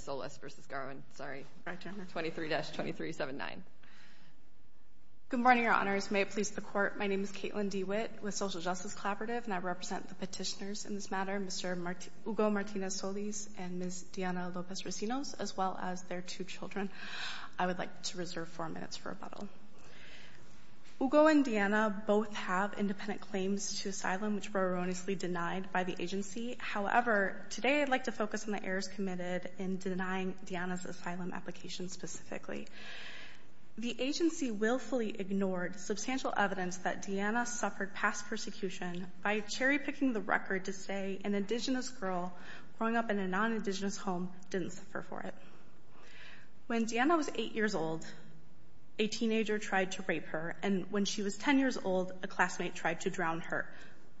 23-2379. Good morning, your honors. May it please the court, my name is Caitlin DeWitt with Social Justice Collaborative and I represent the petitioners in this matter, Mr. Hugo Martinez Solis and Ms. Diana Lopez-Rosinos, as well as their two children. I would like to reserve four minutes for rebuttal. Hugo and Diana both have independent claims to asylum which were erroneously denied by the agency. However, today I'd like to focus on the errors committed in denying Diana's asylum application specifically. The agency willfully ignored substantial evidence that Diana suffered past persecution by cherry-picking the record to say an indigenous girl growing up in a non-indigenous home didn't suffer for it. When Diana was 8 years old, a teenager tried to rape her and when she was 10 years old, a classmate tried to drown her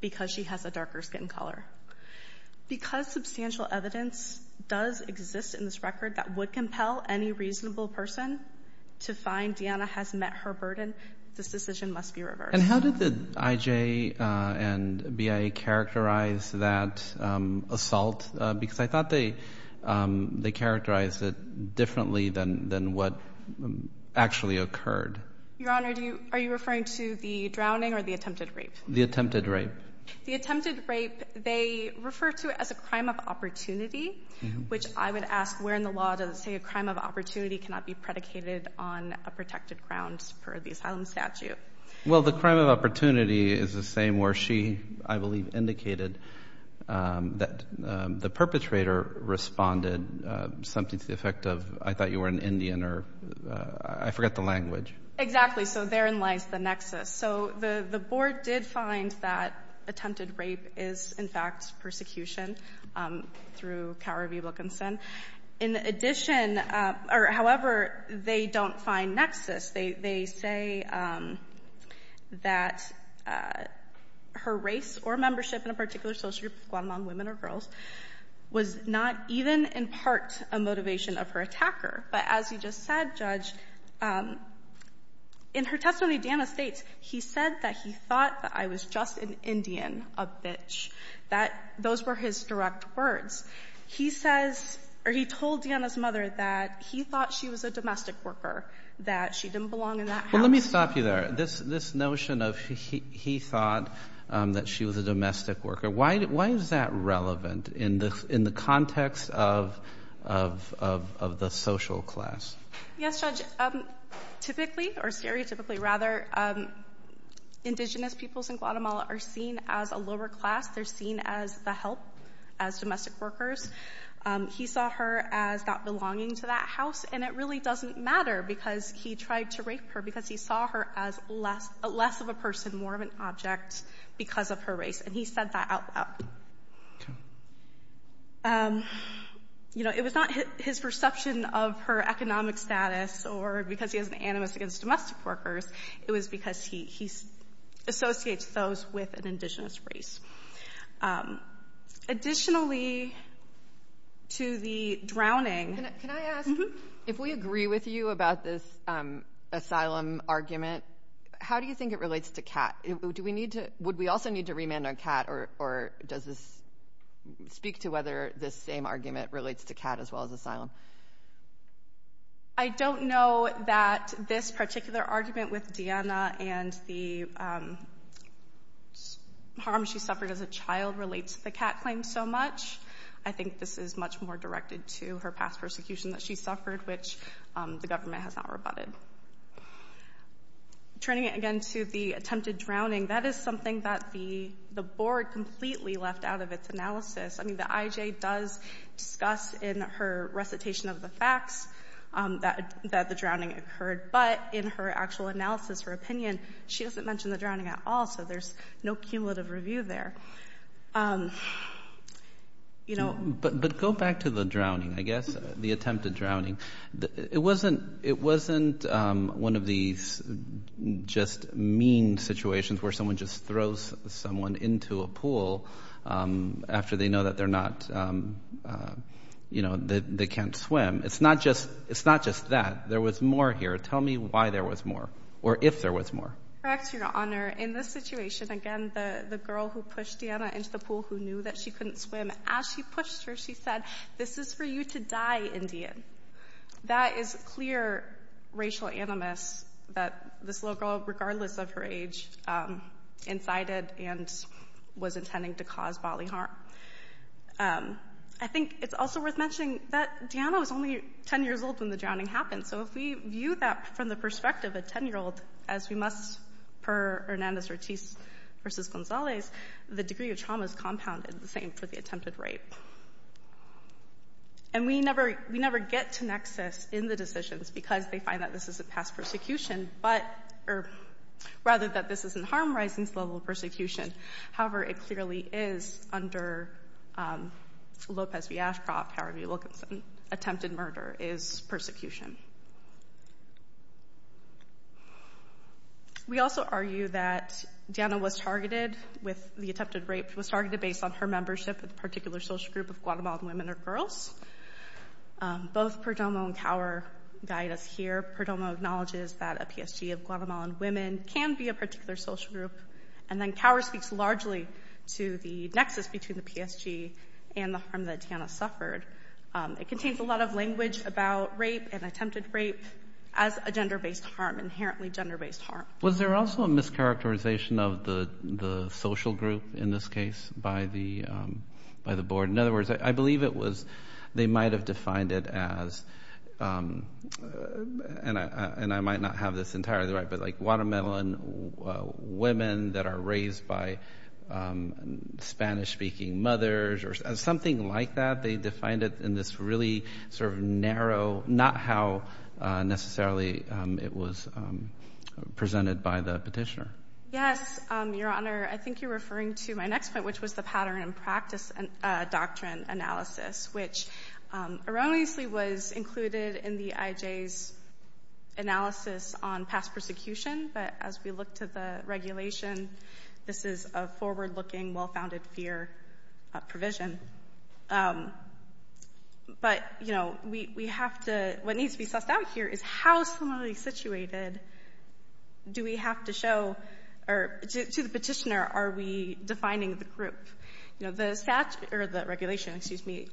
because she has a darker skin color. Because substantial evidence does exist in this record that would compel any reasonable person to find Diana has met her burden, this decision must be reversed. And how did the IJ and BIA characterize that assault? Because I thought they characterized it differently than what actually occurred. Your honor, are you referring to the drowning or the attempted rape? The attempted rape. The attempted rape, they refer to it as a crime of opportunity, which I would ask where in the law does it say a crime of opportunity cannot be predicated on a protected grounds for the asylum statute? Well, the crime of opportunity is the same where she, I believe, indicated that the perpetrator responded something to the effect of, I thought you were an Indian or, I forgot the language. Exactly, so there in lies the nexus. So the board did find that attempted rape is, in fact, persecution through Cowrie v. Wilkinson. However, they don't find nexus. They say that her race or membership in a particular social group, Guatemalan women or girls, was not even in part a motivation of her attacker. But as you just said, Judge, in her testimony, Deanna states, he said that he thought that I was just an Indian, a bitch, that those were his direct words. He says, or he told Deanna's mother that he thought she was a domestic worker, that she didn't belong in that house. Well, let me stop you there. This notion of he thought was a domestic worker, why is that relevant in the context of the social class? Yes, Judge, typically, or stereotypically rather, indigenous peoples in Guatemala are seen as a lower class. They're seen as the help, as domestic workers. He saw her as not belonging to that house, and it really doesn't matter because he tried to rape her because he saw her as less of a person, more of an object, because of her race, and he said that out loud. You know, it was not his perception of her economic status or because he has an animus against domestic workers, it was because he associates those with an indigenous race. Additionally, to the drowning. Can I ask, if we agree with you about this asylum argument, how do you think it relates to Kat? Would we also need to remand on Kat, or does this speak to whether this same argument relates to Kat as well as asylum? I don't know that this particular argument with Deanna and the harm she suffered as a child relates to the Kat claim so much. I think this is much more directed to her past persecution that she suffered, which the government has not rebutted. Turning again to the attempted drowning, that is something that the board completely left out of its analysis. I mean, the IJ does discuss in her recitation of the facts that the drowning occurred, but in her actual analysis, her opinion, she doesn't mention the drowning at all, so there's no cumulative review there. But go back to the drowning, I guess, the attempted drowning. It wasn't one of these just mean situations where someone just throws someone into a pool after they know that they're can't swim. It's not just that. There was more here. Tell me why there was more, or if there was more. In this situation, again, the girl who pushed Deanna into the pool who knew that she couldn't swim, as she pushed her, she said, this is for you to die, Indian. That is clear racial animus that this little girl, regardless of her age, incited and was intending to cause bodily harm. I think it's also worth mentioning that Deanna was only 10 years old when the drowning happened, so if we view that from the perspective of a 10-year-old, as we must per Hernandez-Ortiz versus Gonzalez, the degree of trauma is compounded the same for the attempted rape. And we never get to nexus in the decisions because they find that this is a past persecution, rather that this is a harm rising level of persecution. However, it clearly is under Lopez v. Ashcroft, however you look at attempted murder, is persecution. We also argue that Deanna was targeted with the attempted rape, was targeted based on her membership with a particular social group of Guatemalan women or girls. Both Perdomo and Cower guide us here. Perdomo acknowledges that a PSG of Guatemalan women can be a particular social group, and then Cower speaks largely to the nexus between the PSG and the harm that Deanna suffered. It contains a lot of language about rape and attempted rape as a gender-based harm, inherently gender-based harm. Was there also a mischaracterization of the social group, in this case, by the board? In other words, I believe it was, they might have defined it as, and I might not have this entirely right, but like Guatemalan women that are raised by Spanish-speaking mothers or something like that. They defined it in this really sort of narrow, not how necessarily it was presented by the petitioner. Yes, Your Honor. I think you're referring to my next point, which was the pattern and practice doctrine analysis, which erroneously was included in the IJ's analysis on past persecution. But as we look to the regulation, this is a forward-looking, well-founded fear provision. But, you know, we have to, what needs to be sussed out here is how similarly situated do we have to show, or to the petitioner, are we defining the group? You know, the statute, or the regulation,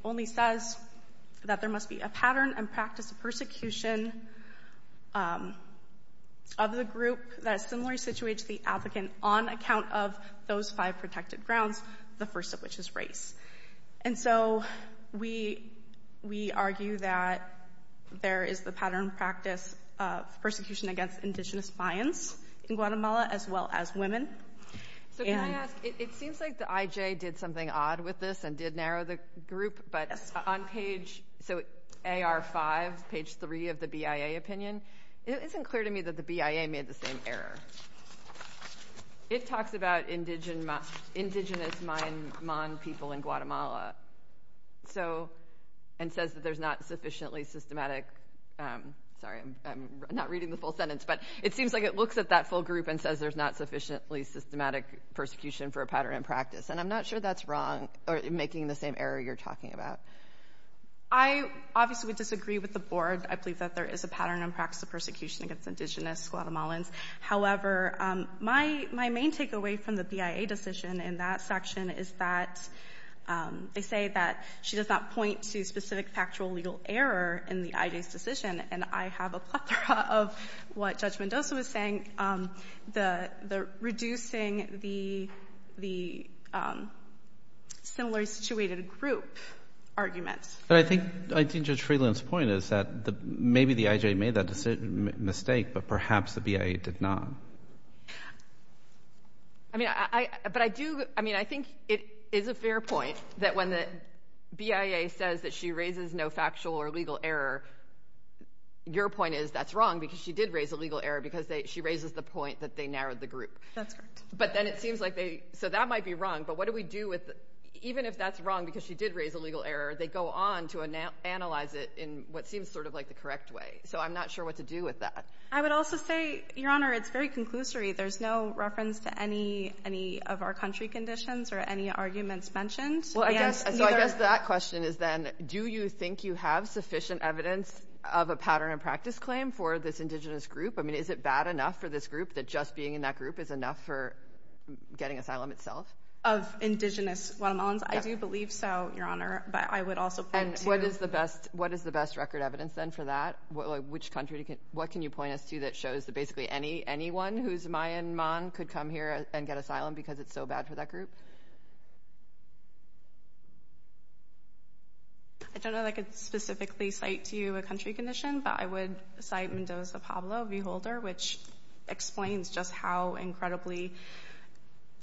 only says that there must be a pattern and practice of persecution of the group that is similarly situated to the applicant on account of those five protected grounds, the first of which is race. And so we argue that there is the pattern and practice of persecution against indigenous Mayans in Guatemala, as well as women. So can I ask, it seems like the IJ did something odd with this and did narrow the group, but on page, so AR5, page three of the BIA opinion, it isn't clear to me that the BIA made the same error. It talks about indigenous Mayan people in Guatemala, and says that there's not sufficiently systematic, sorry, I'm not reading the full sentence, but it seems like it looks at that group and says there's not sufficiently systematic persecution for a pattern and practice. And I'm not sure that's wrong, or making the same error you're talking about. I obviously would disagree with the board. I believe that there is a pattern and practice of persecution against indigenous Guatemalans. However, my main takeaway from the BIA decision in that section is that they say that she does not point to specific factual legal error in the the reducing the similarly situated group argument. But I think, I think Judge Freeland's point is that maybe the IJ made that mistake, but perhaps the BIA did not. I mean, I, but I do, I mean, I think it is a fair point that when the BIA says that she raises no factual or legal error, your point is that's wrong, because she did raise a legal error, because they, she raises the point that they narrowed the group. That's correct. But then it seems like they, so that might be wrong, but what do we do with, even if that's wrong, because she did raise a legal error, they go on to analyze it in what seems sort of like the correct way. So I'm not sure what to do with that. I would also say, Your Honor, it's very conclusory. There's no reference to any, any of our country conditions or any arguments mentioned. Well, I guess, so I guess that question is then, do you think you have sufficient evidence of a pattern and practice claim for this Indigenous group? I mean, is it bad enough for this group that just being in that group is enough for getting asylum itself? Of Indigenous Guatemalans? I do believe so, Your Honor, but I would also point to- And what is the best, what is the best record evidence then for that? What, like, which country can, what can you point us to that shows that basically any, anyone who's Mayanmon could come here and get asylum because it's so bad for that group? I don't know that I could specifically cite to you a country condition, but I would cite Mendoza Pablo, a viewholder, which explains just how incredibly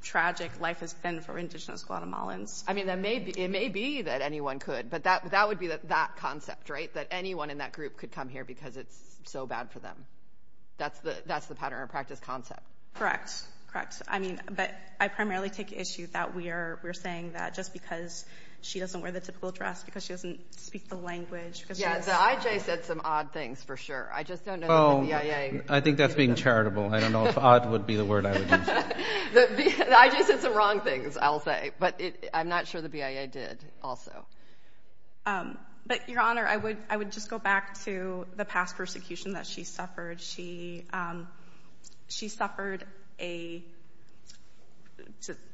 tragic life has been for Indigenous Guatemalans. I mean, that may be, it may be that anyone could, but that, that would be that concept, right? That anyone in that group could come here because it's so bad for them. That's the, that's the pattern and practice concept. Correct. Correct. I mean, but I primarily take issue that we are, we're saying that just because she doesn't wear the typical dress because she doesn't speak the language because she's- Yeah, the IJ said some odd things for sure. I just don't know that the BIA- I think that's being charitable. I don't know if odd would be the word I would use. The IJ said some wrong things, I'll say, but I'm not sure the BIA did also. But, Your Honor, I would, I would just go back to the past persecution that she suffered. She, she suffered a,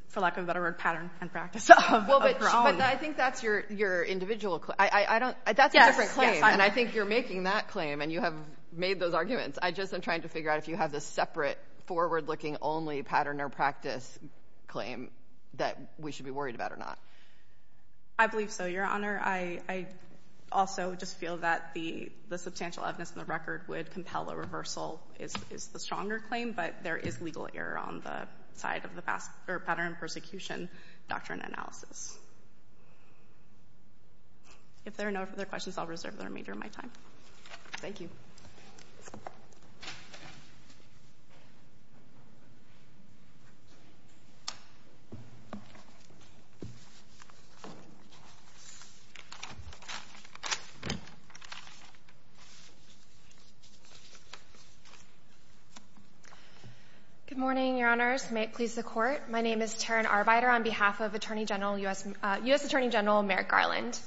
for lack of a better word, pattern and practice of wrong. Well, but I think that's your, your individual, I don't, that's a different claim. And I think you're making that claim and you have made those arguments. I just am trying to figure out if you have this separate forward-looking only pattern or practice claim that we should be worried about or not. I believe so, Your Honor. I, I also just feel that the, the substantial evidence in the record would compel a reversal is, is the stronger claim, but there is legal error on the side of the past, or pattern of persecution doctrine analysis. If there are no further questions, I'll reserve the remainder of my time. Thank you. Good morning, Your Honors. May it please the Court. My name is Taryn Arbeiter on behalf of Attorney General, U.S., U.S. Attorney General Merrick Garland.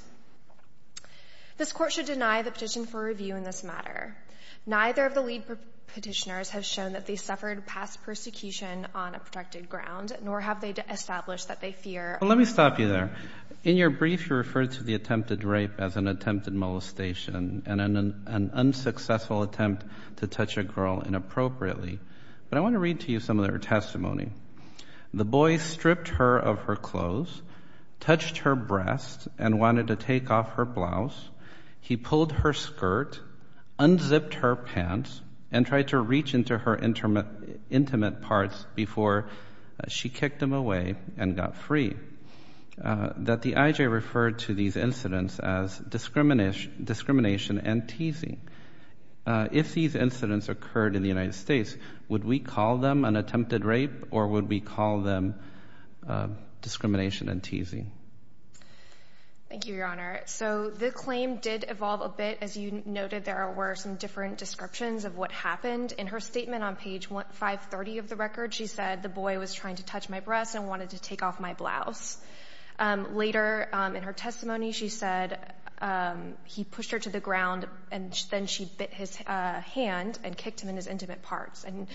This Court should deny the petition for review in this matter. Neither of the lead petitioners have shown that they suffered past persecution on a protected ground, nor have they established that they fear. Let me stop you there. In your brief, you referred to the attempted rape as an attempted molestation and an, an unsuccessful attempt to touch a girl inappropriately, but I want to read to you some of their testimony. The boy stripped her of her clothes, touched her breast and wanted to take off her blouse. He pulled her skirt, unzipped her pants, and tried to reach into her intimate parts before she kicked him away and got free. That the I.J. referred to these incidents as discrimination and teasing. If these incidents occurred in the United States, would we call them an attempted rape or would we call them discrimination and teasing? Thank you, Your Honor. So the claim did evolve a bit. As you noted, there were some different descriptions of what happened. In her statement on page 530 of the record, she said the boy was trying to touch my breast and wanted to take off my blouse. Later in her testimony, she said he pushed her to the ground and then she bit his hand and kicked him in his intimate parts. And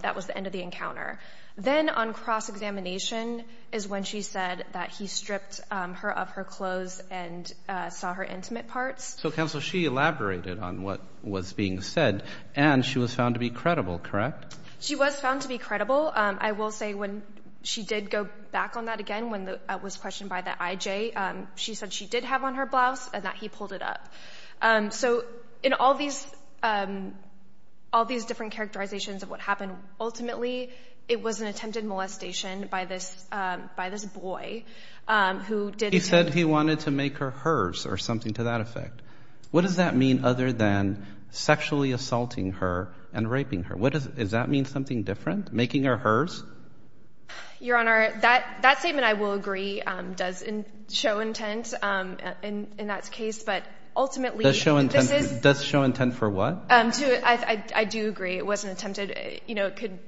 that was the end of the encounter. Then on cross-examination is when she said that he stripped her of her clothes and saw her intimate parts. So counsel, she elaborated on what was being said and she was found to be credible, correct? She was found to be credible. I will she did go back on that again when it was questioned by the I.J. She said she did have on her blouse and that he pulled it up. So in all these different characterizations of what happened, ultimately, it was an attempted molestation by this boy who did... He said he wanted to make her hers or something to that effect. What does that mean other than sexually assaulting her and raping her? Does that mean something different? Making her hers? Your Honor, that statement, I will agree, does show intent in that case, but ultimately... Does show intent for what? I do agree. It was an attempted...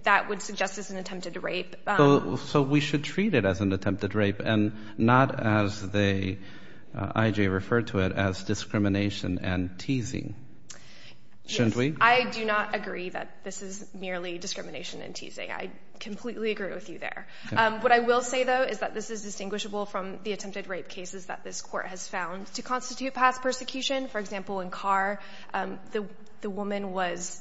That would suggest as an attempted rape. So we should treat it as an attempted rape and not as the I.J. referred to it as discrimination and teasing, shouldn't we? I do not agree that this is merely discrimination and teasing. I completely agree with you there. What I will say, though, is that this is distinguishable from the attempted rape cases that this court has found to constitute past persecution. For example, in Carr, the woman was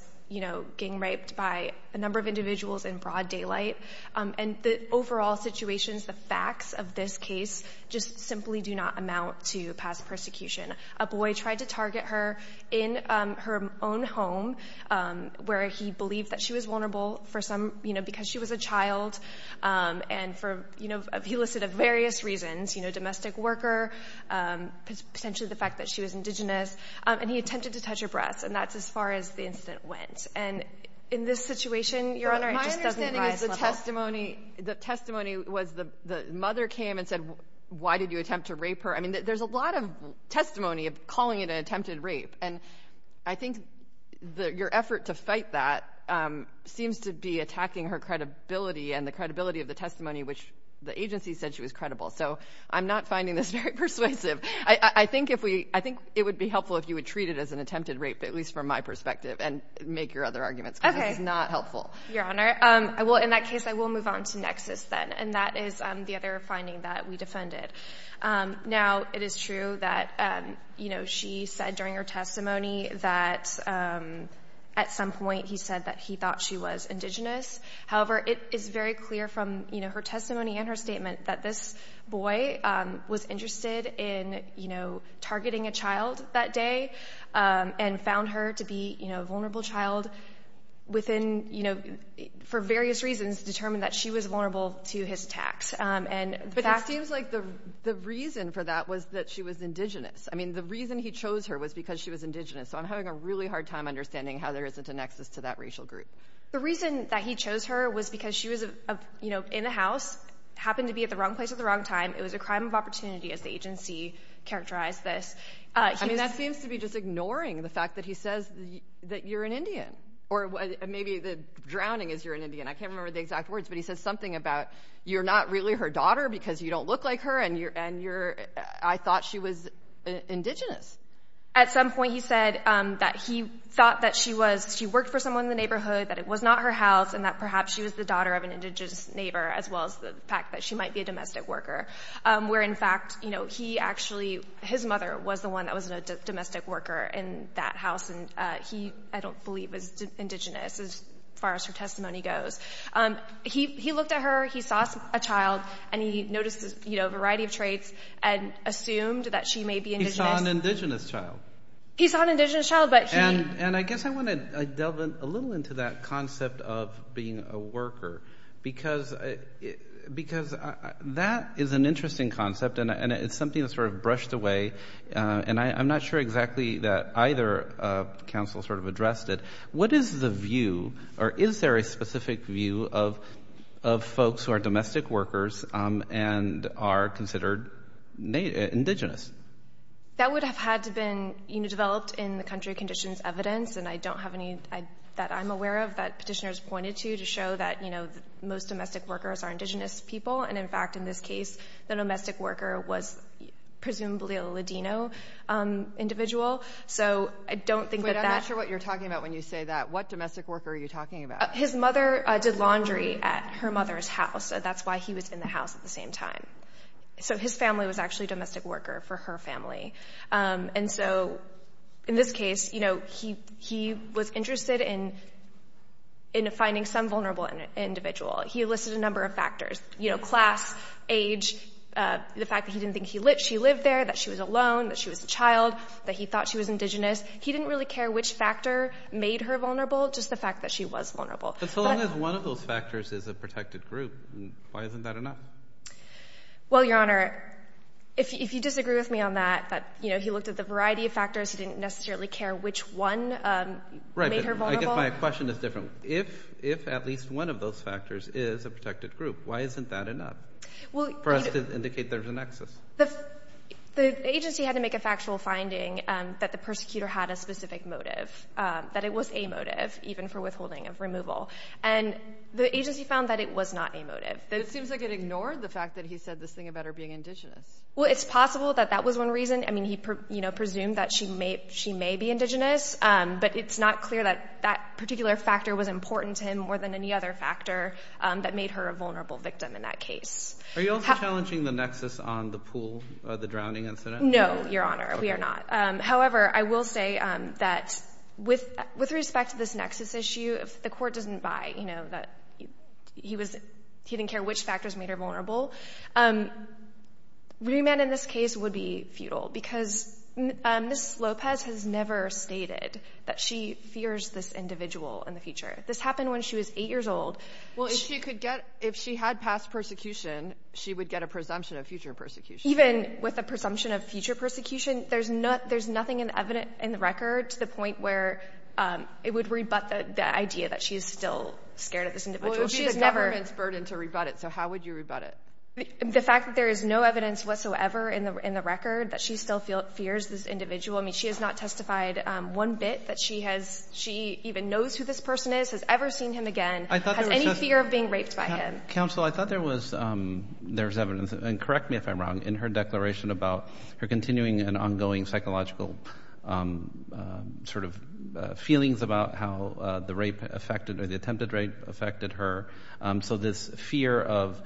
gang raped by a number of individuals in broad daylight. And the overall situations, the facts of this case just simply do not amount to past persecution. A boy tried to target her in her own home where he believed that she was vulnerable for some... Because she was a child and for a few listed of various reasons, domestic worker, potentially the fact that she was indigenous, and he attempted to touch her breasts. And that's as far as the incident went. And in this situation, Your Honor, it just doesn't rise to that level. The testimony was the mother came and said, why did you attempt to rape her? There's a lot of testimony of calling it an attempted rape. And I think that your effort to fight that seems to be attacking her credibility and the credibility of the testimony, which the agency said she was credible. So I'm not finding this very persuasive. I think it would be helpful if you would treat it as an attempted rape, at least from my perspective, and make your other arguments because it's not helpful. Your Honor, in that case, I will move on to Nexus then. And that is the other finding that we defended. Now, it is true that she said during her testimony that at some point he said that he thought she was indigenous. However, it is very clear from her testimony and her statement that this boy was interested in targeting a child that day and found her to be a vulnerable child within... For various reasons, determined that she was to his attacks. But it seems like the reason for that was that she was indigenous. I mean, the reason he chose her was because she was indigenous. So I'm having a really hard time understanding how there isn't a nexus to that racial group. The reason that he chose her was because she was in the house, happened to be at the wrong place at the wrong time. It was a crime of opportunity as the agency characterized this. I mean, that seems to be just ignoring the fact that he says that you're an Indian or maybe the drowning is you're an Indian. I can't remember the exact words, but he says something about you're not really her daughter because you don't look like her. And I thought she was indigenous. At some point, he said that he thought that she was, she worked for someone in the neighborhood, that it was not her house and that perhaps she was the daughter of an indigenous neighbor, as well as the fact that she might be a domestic worker. Where in fact, his mother was the one that was a domestic worker in that house. And I don't believe was indigenous as far as her testimony goes. He looked at her, he saw a child, and he noticed a variety of traits and assumed that she may be indigenous. He saw an indigenous child. He saw an indigenous child, but he... And I guess I want to delve in a little into that concept of being a worker, because that is an interesting concept and it's something that's sort of brushed away. And I'm not sure that either council sort of addressed it. What is the view or is there a specific view of folks who are domestic workers and are considered indigenous? That would have had to been developed in the country conditions evidence. And I don't have any that I'm aware of that petitioners pointed to, to show that most domestic workers are indigenous people. And in fact, in this case, the domestic worker was presumably a Ladino individual. So I don't think that that... Wait, I'm not sure what you're talking about when you say that. What domestic worker are you talking about? His mother did laundry at her mother's house. So that's why he was in the house at the same time. So his family was actually domestic worker for her family. And so in this case, he was interested in finding some vulnerable individual. He listed a number of factors, class, age, the fact that he lived there, that she was alone, that she was a child, that he thought she was indigenous. He didn't really care which factor made her vulnerable, just the fact that she was vulnerable. But so long as one of those factors is a protected group, why isn't that enough? Well, Your Honor, if you disagree with me on that, that he looked at the variety of factors, he didn't necessarily care which one made her vulnerable. I guess my question is different. If at least one of those factors is a protected group, why isn't that enough for us to indicate there's a nexus? The agency had to make a factual finding that the persecutor had a specific motive, that it was a motive even for withholding of removal. And the agency found that it was not a motive. It seems like it ignored the fact that he said this thing about her being indigenous. Well, it's possible that that was one reason. I mean, he presumed that she may be indigenous, but it's not clear that that particular factor was important to him more than any other factor that made her a vulnerable victim in that case. Are you also challenging the nexus on the pool, the drowning incident? No, Your Honor, we are not. However, I will say that with respect to this nexus issue, if the court doesn't buy that he didn't care which factors made her vulnerable, Riemann in this case would be futile because Ms. Lopez has never stated that she fears this individual in the future. This happened when she was eight years old. Well, if she could get, if she had past persecution, she would get a presumption of future persecution. Even with a presumption of future persecution, there's nothing in the record to the point where it would rebut the idea that she is still scared of this individual. It would be the government's burden to rebut it, so how would you rebut it? The fact that there is no evidence whatsoever in the record that she still fears this individual. I mean, she has not testified one bit that she has, she even knows who this person is, has ever seen him again. Has any fear of being raped by him. Counsel, I thought there was, there's evidence, and correct me if I'm wrong, in her declaration about her continuing and ongoing psychological sort of feelings about how the rape affected, or the attempted rape affected her. So this fear of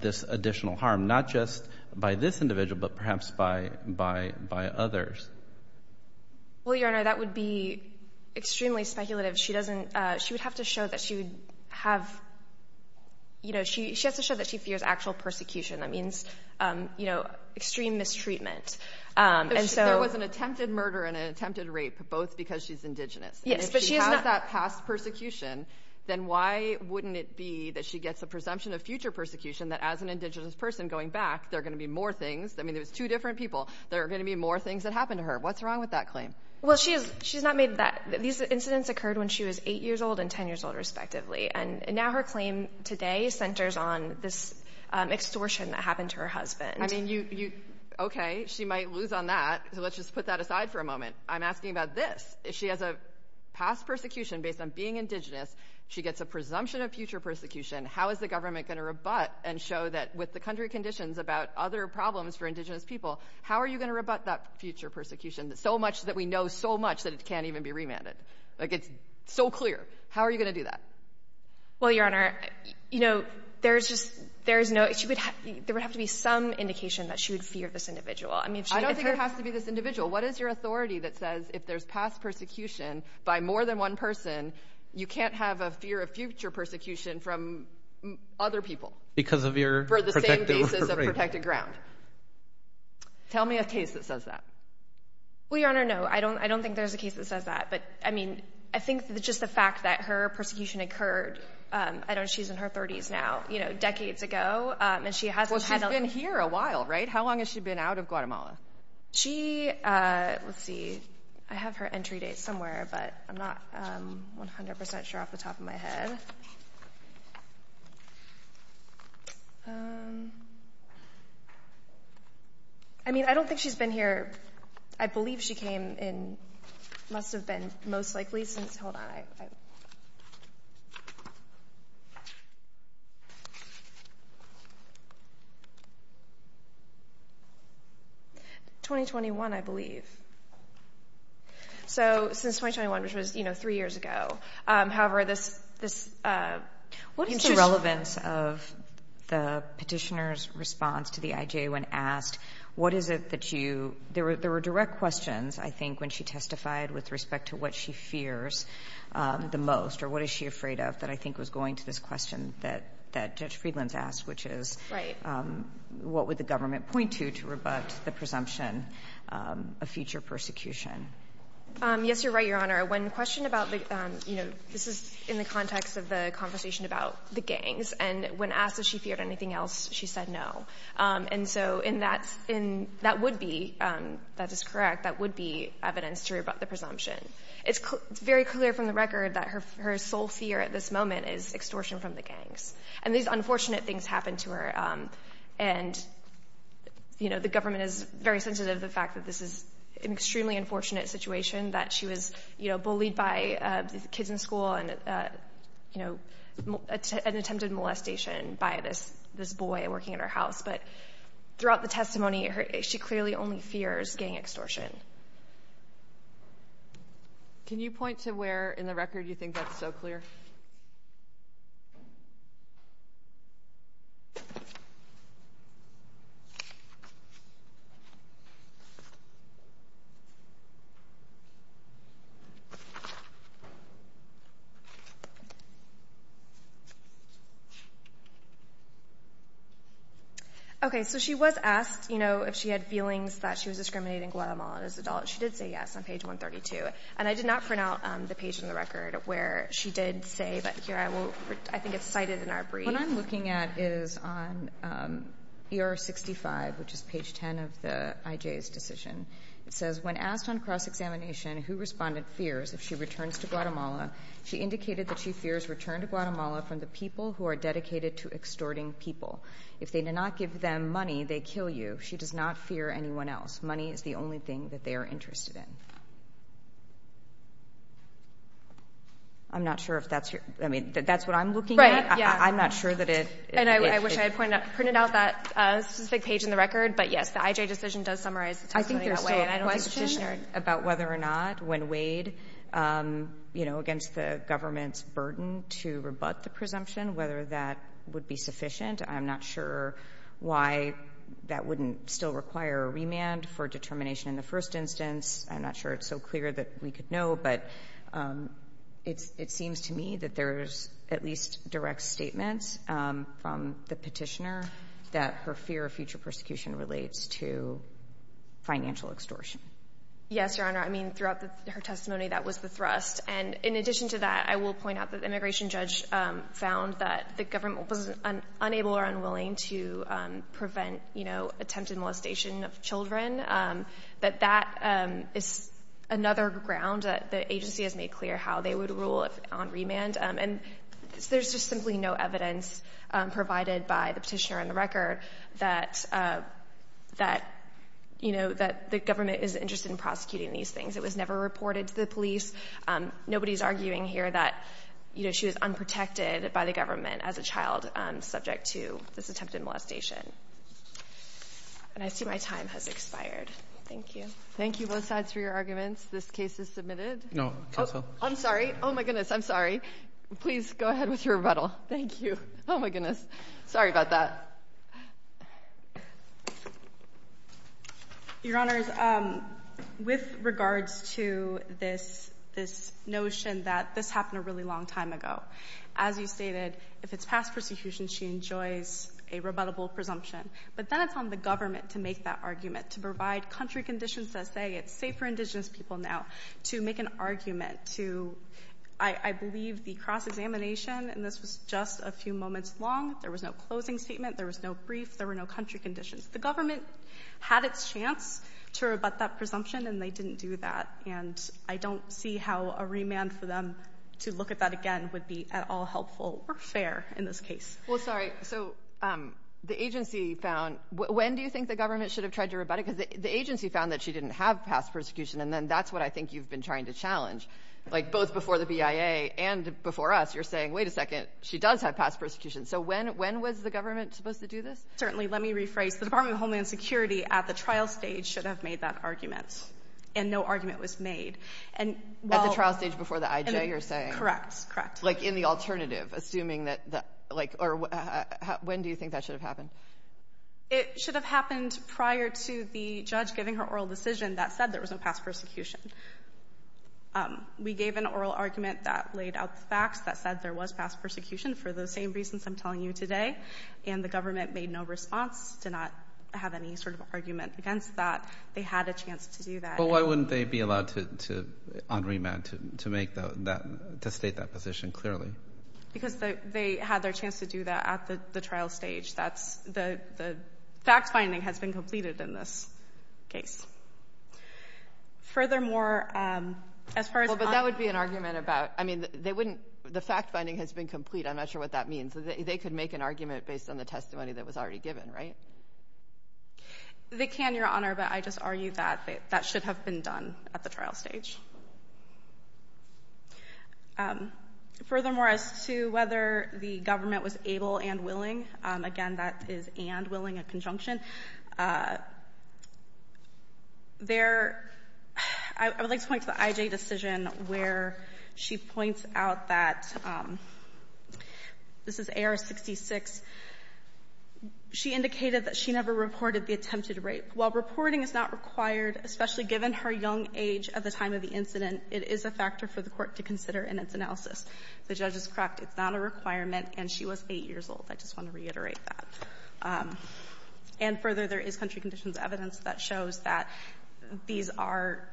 this additional harm, not just by this individual, but perhaps by others. Well, Your Honor, that would be extremely speculative. She doesn't, she would have to show that she would have, you know, she has to show that she fears actual persecution. That means, you know, extreme mistreatment. There was an attempted murder and an attempted rape, both because she's Indigenous. Yes, but she has not- If she has that past persecution, then why wouldn't it be that she gets a presumption of future persecution that as an Indigenous person going back, there are going to be more things, I mean, there's two different people, there are going to be more things that happen to her. What's wrong with that claim? Well, she's not made that, these incidents occurred when she was eight years old and 10 years old, respectively. And now her claim today centers on this extortion that happened to her husband. I mean, you, okay, she might lose on that. So let's just put that aside for a moment. I'm asking about this. If she has a past persecution based on being Indigenous, she gets a presumption of future persecution. How is the government going to rebut and show that with the country conditions about other problems for Indigenous people, how are you going to rebut that future persecution that so much that we know so much that it can't even be remanded? Like, it's so clear. How are you going to do that? Well, Your Honor, you know, there's just, there's no, she would have, there would have to be some indication that she would fear this individual. I mean- I don't think it has to be this individual. What is your authority that says if there's past persecution by more than one person, you can't have a fear of future persecution from other people? Because of your protected- For the same basis of protected ground. Tell me a case that says that. Well, Your Honor, no, I don't, I don't think there's a case that says that, but I mean, I think that just the fact that her persecution occurred, I don't know, she's in her 30s now, you know, decades ago, and she hasn't had- Well, she's been here a while, right? How long has she been out of Guatemala? She, let's see, I have her entry date somewhere, but I'm not 100% sure off the top of my head. Um, I mean, I don't think she's been here, I believe she came in, must have been most likely since, hold on, 2021, I believe. So, since 2021, which was, you know, three years ago. However, this, this, uh- What is the relevance of the petitioner's response to the IJA when asked, what is it that you, there were, there were direct questions, I think, when she testified with respect to what she fears the most, or what is she afraid of, that I think was going to this question that, that Judge Friedland's asked, which is- Right. What would the government point to, to rebut the presumption of future persecution? Yes, you're right, Your Honor. When questioned about the, you know, this is in the context of the conversation about the gangs, and when asked if she feared anything else, she said no. And so, in that, in, that would be, that is correct, that would be evidence to rebut the presumption. It's very clear from the record that her sole fear at this moment is extortion from the gangs. And these unfortunate things happen to her. And, you know, the government is very sensitive to the fact that this is an extremely unfortunate situation, that she was, you know, bullied by kids in school and, you know, an attempted molestation by this, this boy working at her house. But throughout the testimony, she clearly only fears gang extortion. Can you point to where in the record you think that's so clear? Okay, so she was asked, you know, if she had feelings that she was discriminating Guatemala as an adult. She did say yes on page 132. And I did not print out the page in the record where she did say, but here I will, I think it's cited in our brief. What I'm looking at is on ER 65, which is page 10 of the IJ's decision. It says, when asked on cross-examination who respondent fears if she returns to Guatemala, she indicated that she fears return to Guatemala from the people who are dedicated to extorting people. If they do not give them money, they kill you. She does not fear anyone else. Money is the only thing that they are interested in. I'm not sure if that's your, I mean, that's what I'm looking at. I'm not sure that it. And I wish I had pointed out that specific page in the record. But yes, the IJ decision does summarize the testimony in that way. I think there's still a question about whether or not when weighed, you know, against the government's burden to rebut the presumption, whether that would be sufficient. I'm not sure why that wouldn't still require a remand for determination in the first instance. I'm not sure it's so clear that we could know. But it seems to me that there's at least direct statements from the petitioner that her fear of future persecution relates to financial extortion. Yes, Your Honor. I mean, throughout her testimony, that was the thrust. And in addition to that, I will point out that the immigration judge found that the government was unable or unwilling to prevent, you know, attempted molestation of children. But that is another ground that the agency has made clear how they would rule on remand. And there's just simply no evidence provided by the petitioner in the record that, you know, that the government is interested in prosecuting these things. It was never reported to the police. Nobody's arguing here that, you know, she was unprotected by the government as a child subject to this attempted molestation. And I see my time has expired. Thank you. Thank you both sides for your arguments. This case is submitted. No. I'm sorry. Oh, my goodness. I'm sorry. Please go ahead with your rebuttal. Thank you. Oh, my goodness. Sorry about that. Your Honor, with regards to this notion that this happened a really long time ago, as you stated, if it's past persecution, she enjoys a rebuttable presumption. But then it's on the government to make that argument, to provide country conditions that say it's safe for indigenous people now to make an argument to, I believe, the cross-examination. And this was just a few moments long. There was no closing statement. There was no brief. There were no country conditions. The government had its chance to rebut that presumption, and they didn't do that. And I don't see how a remand for them to look at that again would be at all helpful or fair in this case. Well, sorry. So the agency found when do you think the government should have tried to rebut it? Because the agency found that she didn't have past persecution. And then that's what I think you've been trying to challenge like both before the BIA and before us. You're saying, wait a second, she does have past persecution. So when when was the government supposed to do this? Certainly. Let me rephrase the Department of Homeland Security at the trial stage should have made that argument, and no argument was made. At the trial stage before the IJ, you're saying? Correct, correct. Like in the alternative, assuming that, like, or when do you think that should have happened? It should have happened prior to the judge giving her oral decision that said there was no past persecution. We gave an oral argument that laid out the facts that said there was past persecution for the same reasons I'm telling you today. And the government made no response to not have any sort of argument against that. They had a chance to do that. But why wouldn't they be allowed to on remand to make that to state that position clearly? Because they had their chance to do that at the trial stage. That's the fact finding has been completed in this case. Furthermore, as far as that would be an argument about. I mean, they wouldn't. The fact finding has been complete. I'm not sure what that means. They could make an argument based on the testimony that was already given, right? They can, Your Honor, but I just argue that that should have been done at the trial stage. Furthermore, as to whether the government was able and willing, again, that is and willing, a conjunction. There, I would like to point to the IJ decision where she points out that this is AR-66. She indicated that she never reported the attempted rape. While reporting is not required, especially given her young age at the time of the incident, it is a factor for the Court to consider in its analysis. The judge is correct. It's not a requirement, and she was 8 years old. I just want to reiterate that. And further, there is country conditions evidence that shows that these are,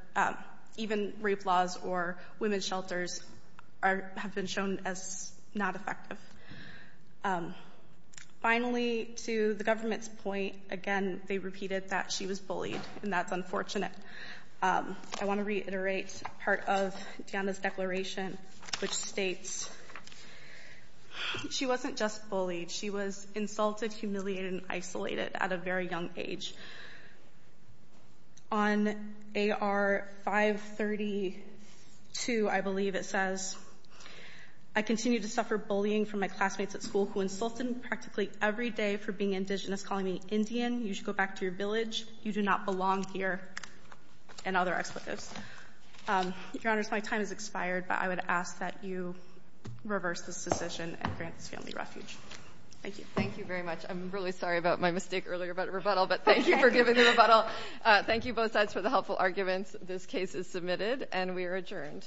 even rape laws or women's shelters, have been shown as not effective. Finally, to the government's point, again, they repeated that she was bullied, and that's unfortunate. I want to reiterate part of Deanna's declaration, which states she wasn't just bullied. She was insulted, humiliated, and isolated at a very young age. On AR-532, I believe it says, I continue to suffer bullying from my classmates at school who insulted me practically every day for being indigenous, calling me Indian. You should go back to your village. You do not belong here, and other expletives. Your Honors, my time has expired, but I would ask that you reverse this decision and grant this family refuge. Thank you. Thank you very much. I'm really sorry about my mistake earlier about rebuttal, but thank you for giving the rebuttal. Thank you both sides for the helpful arguments. This case is submitted, and we are adjourned.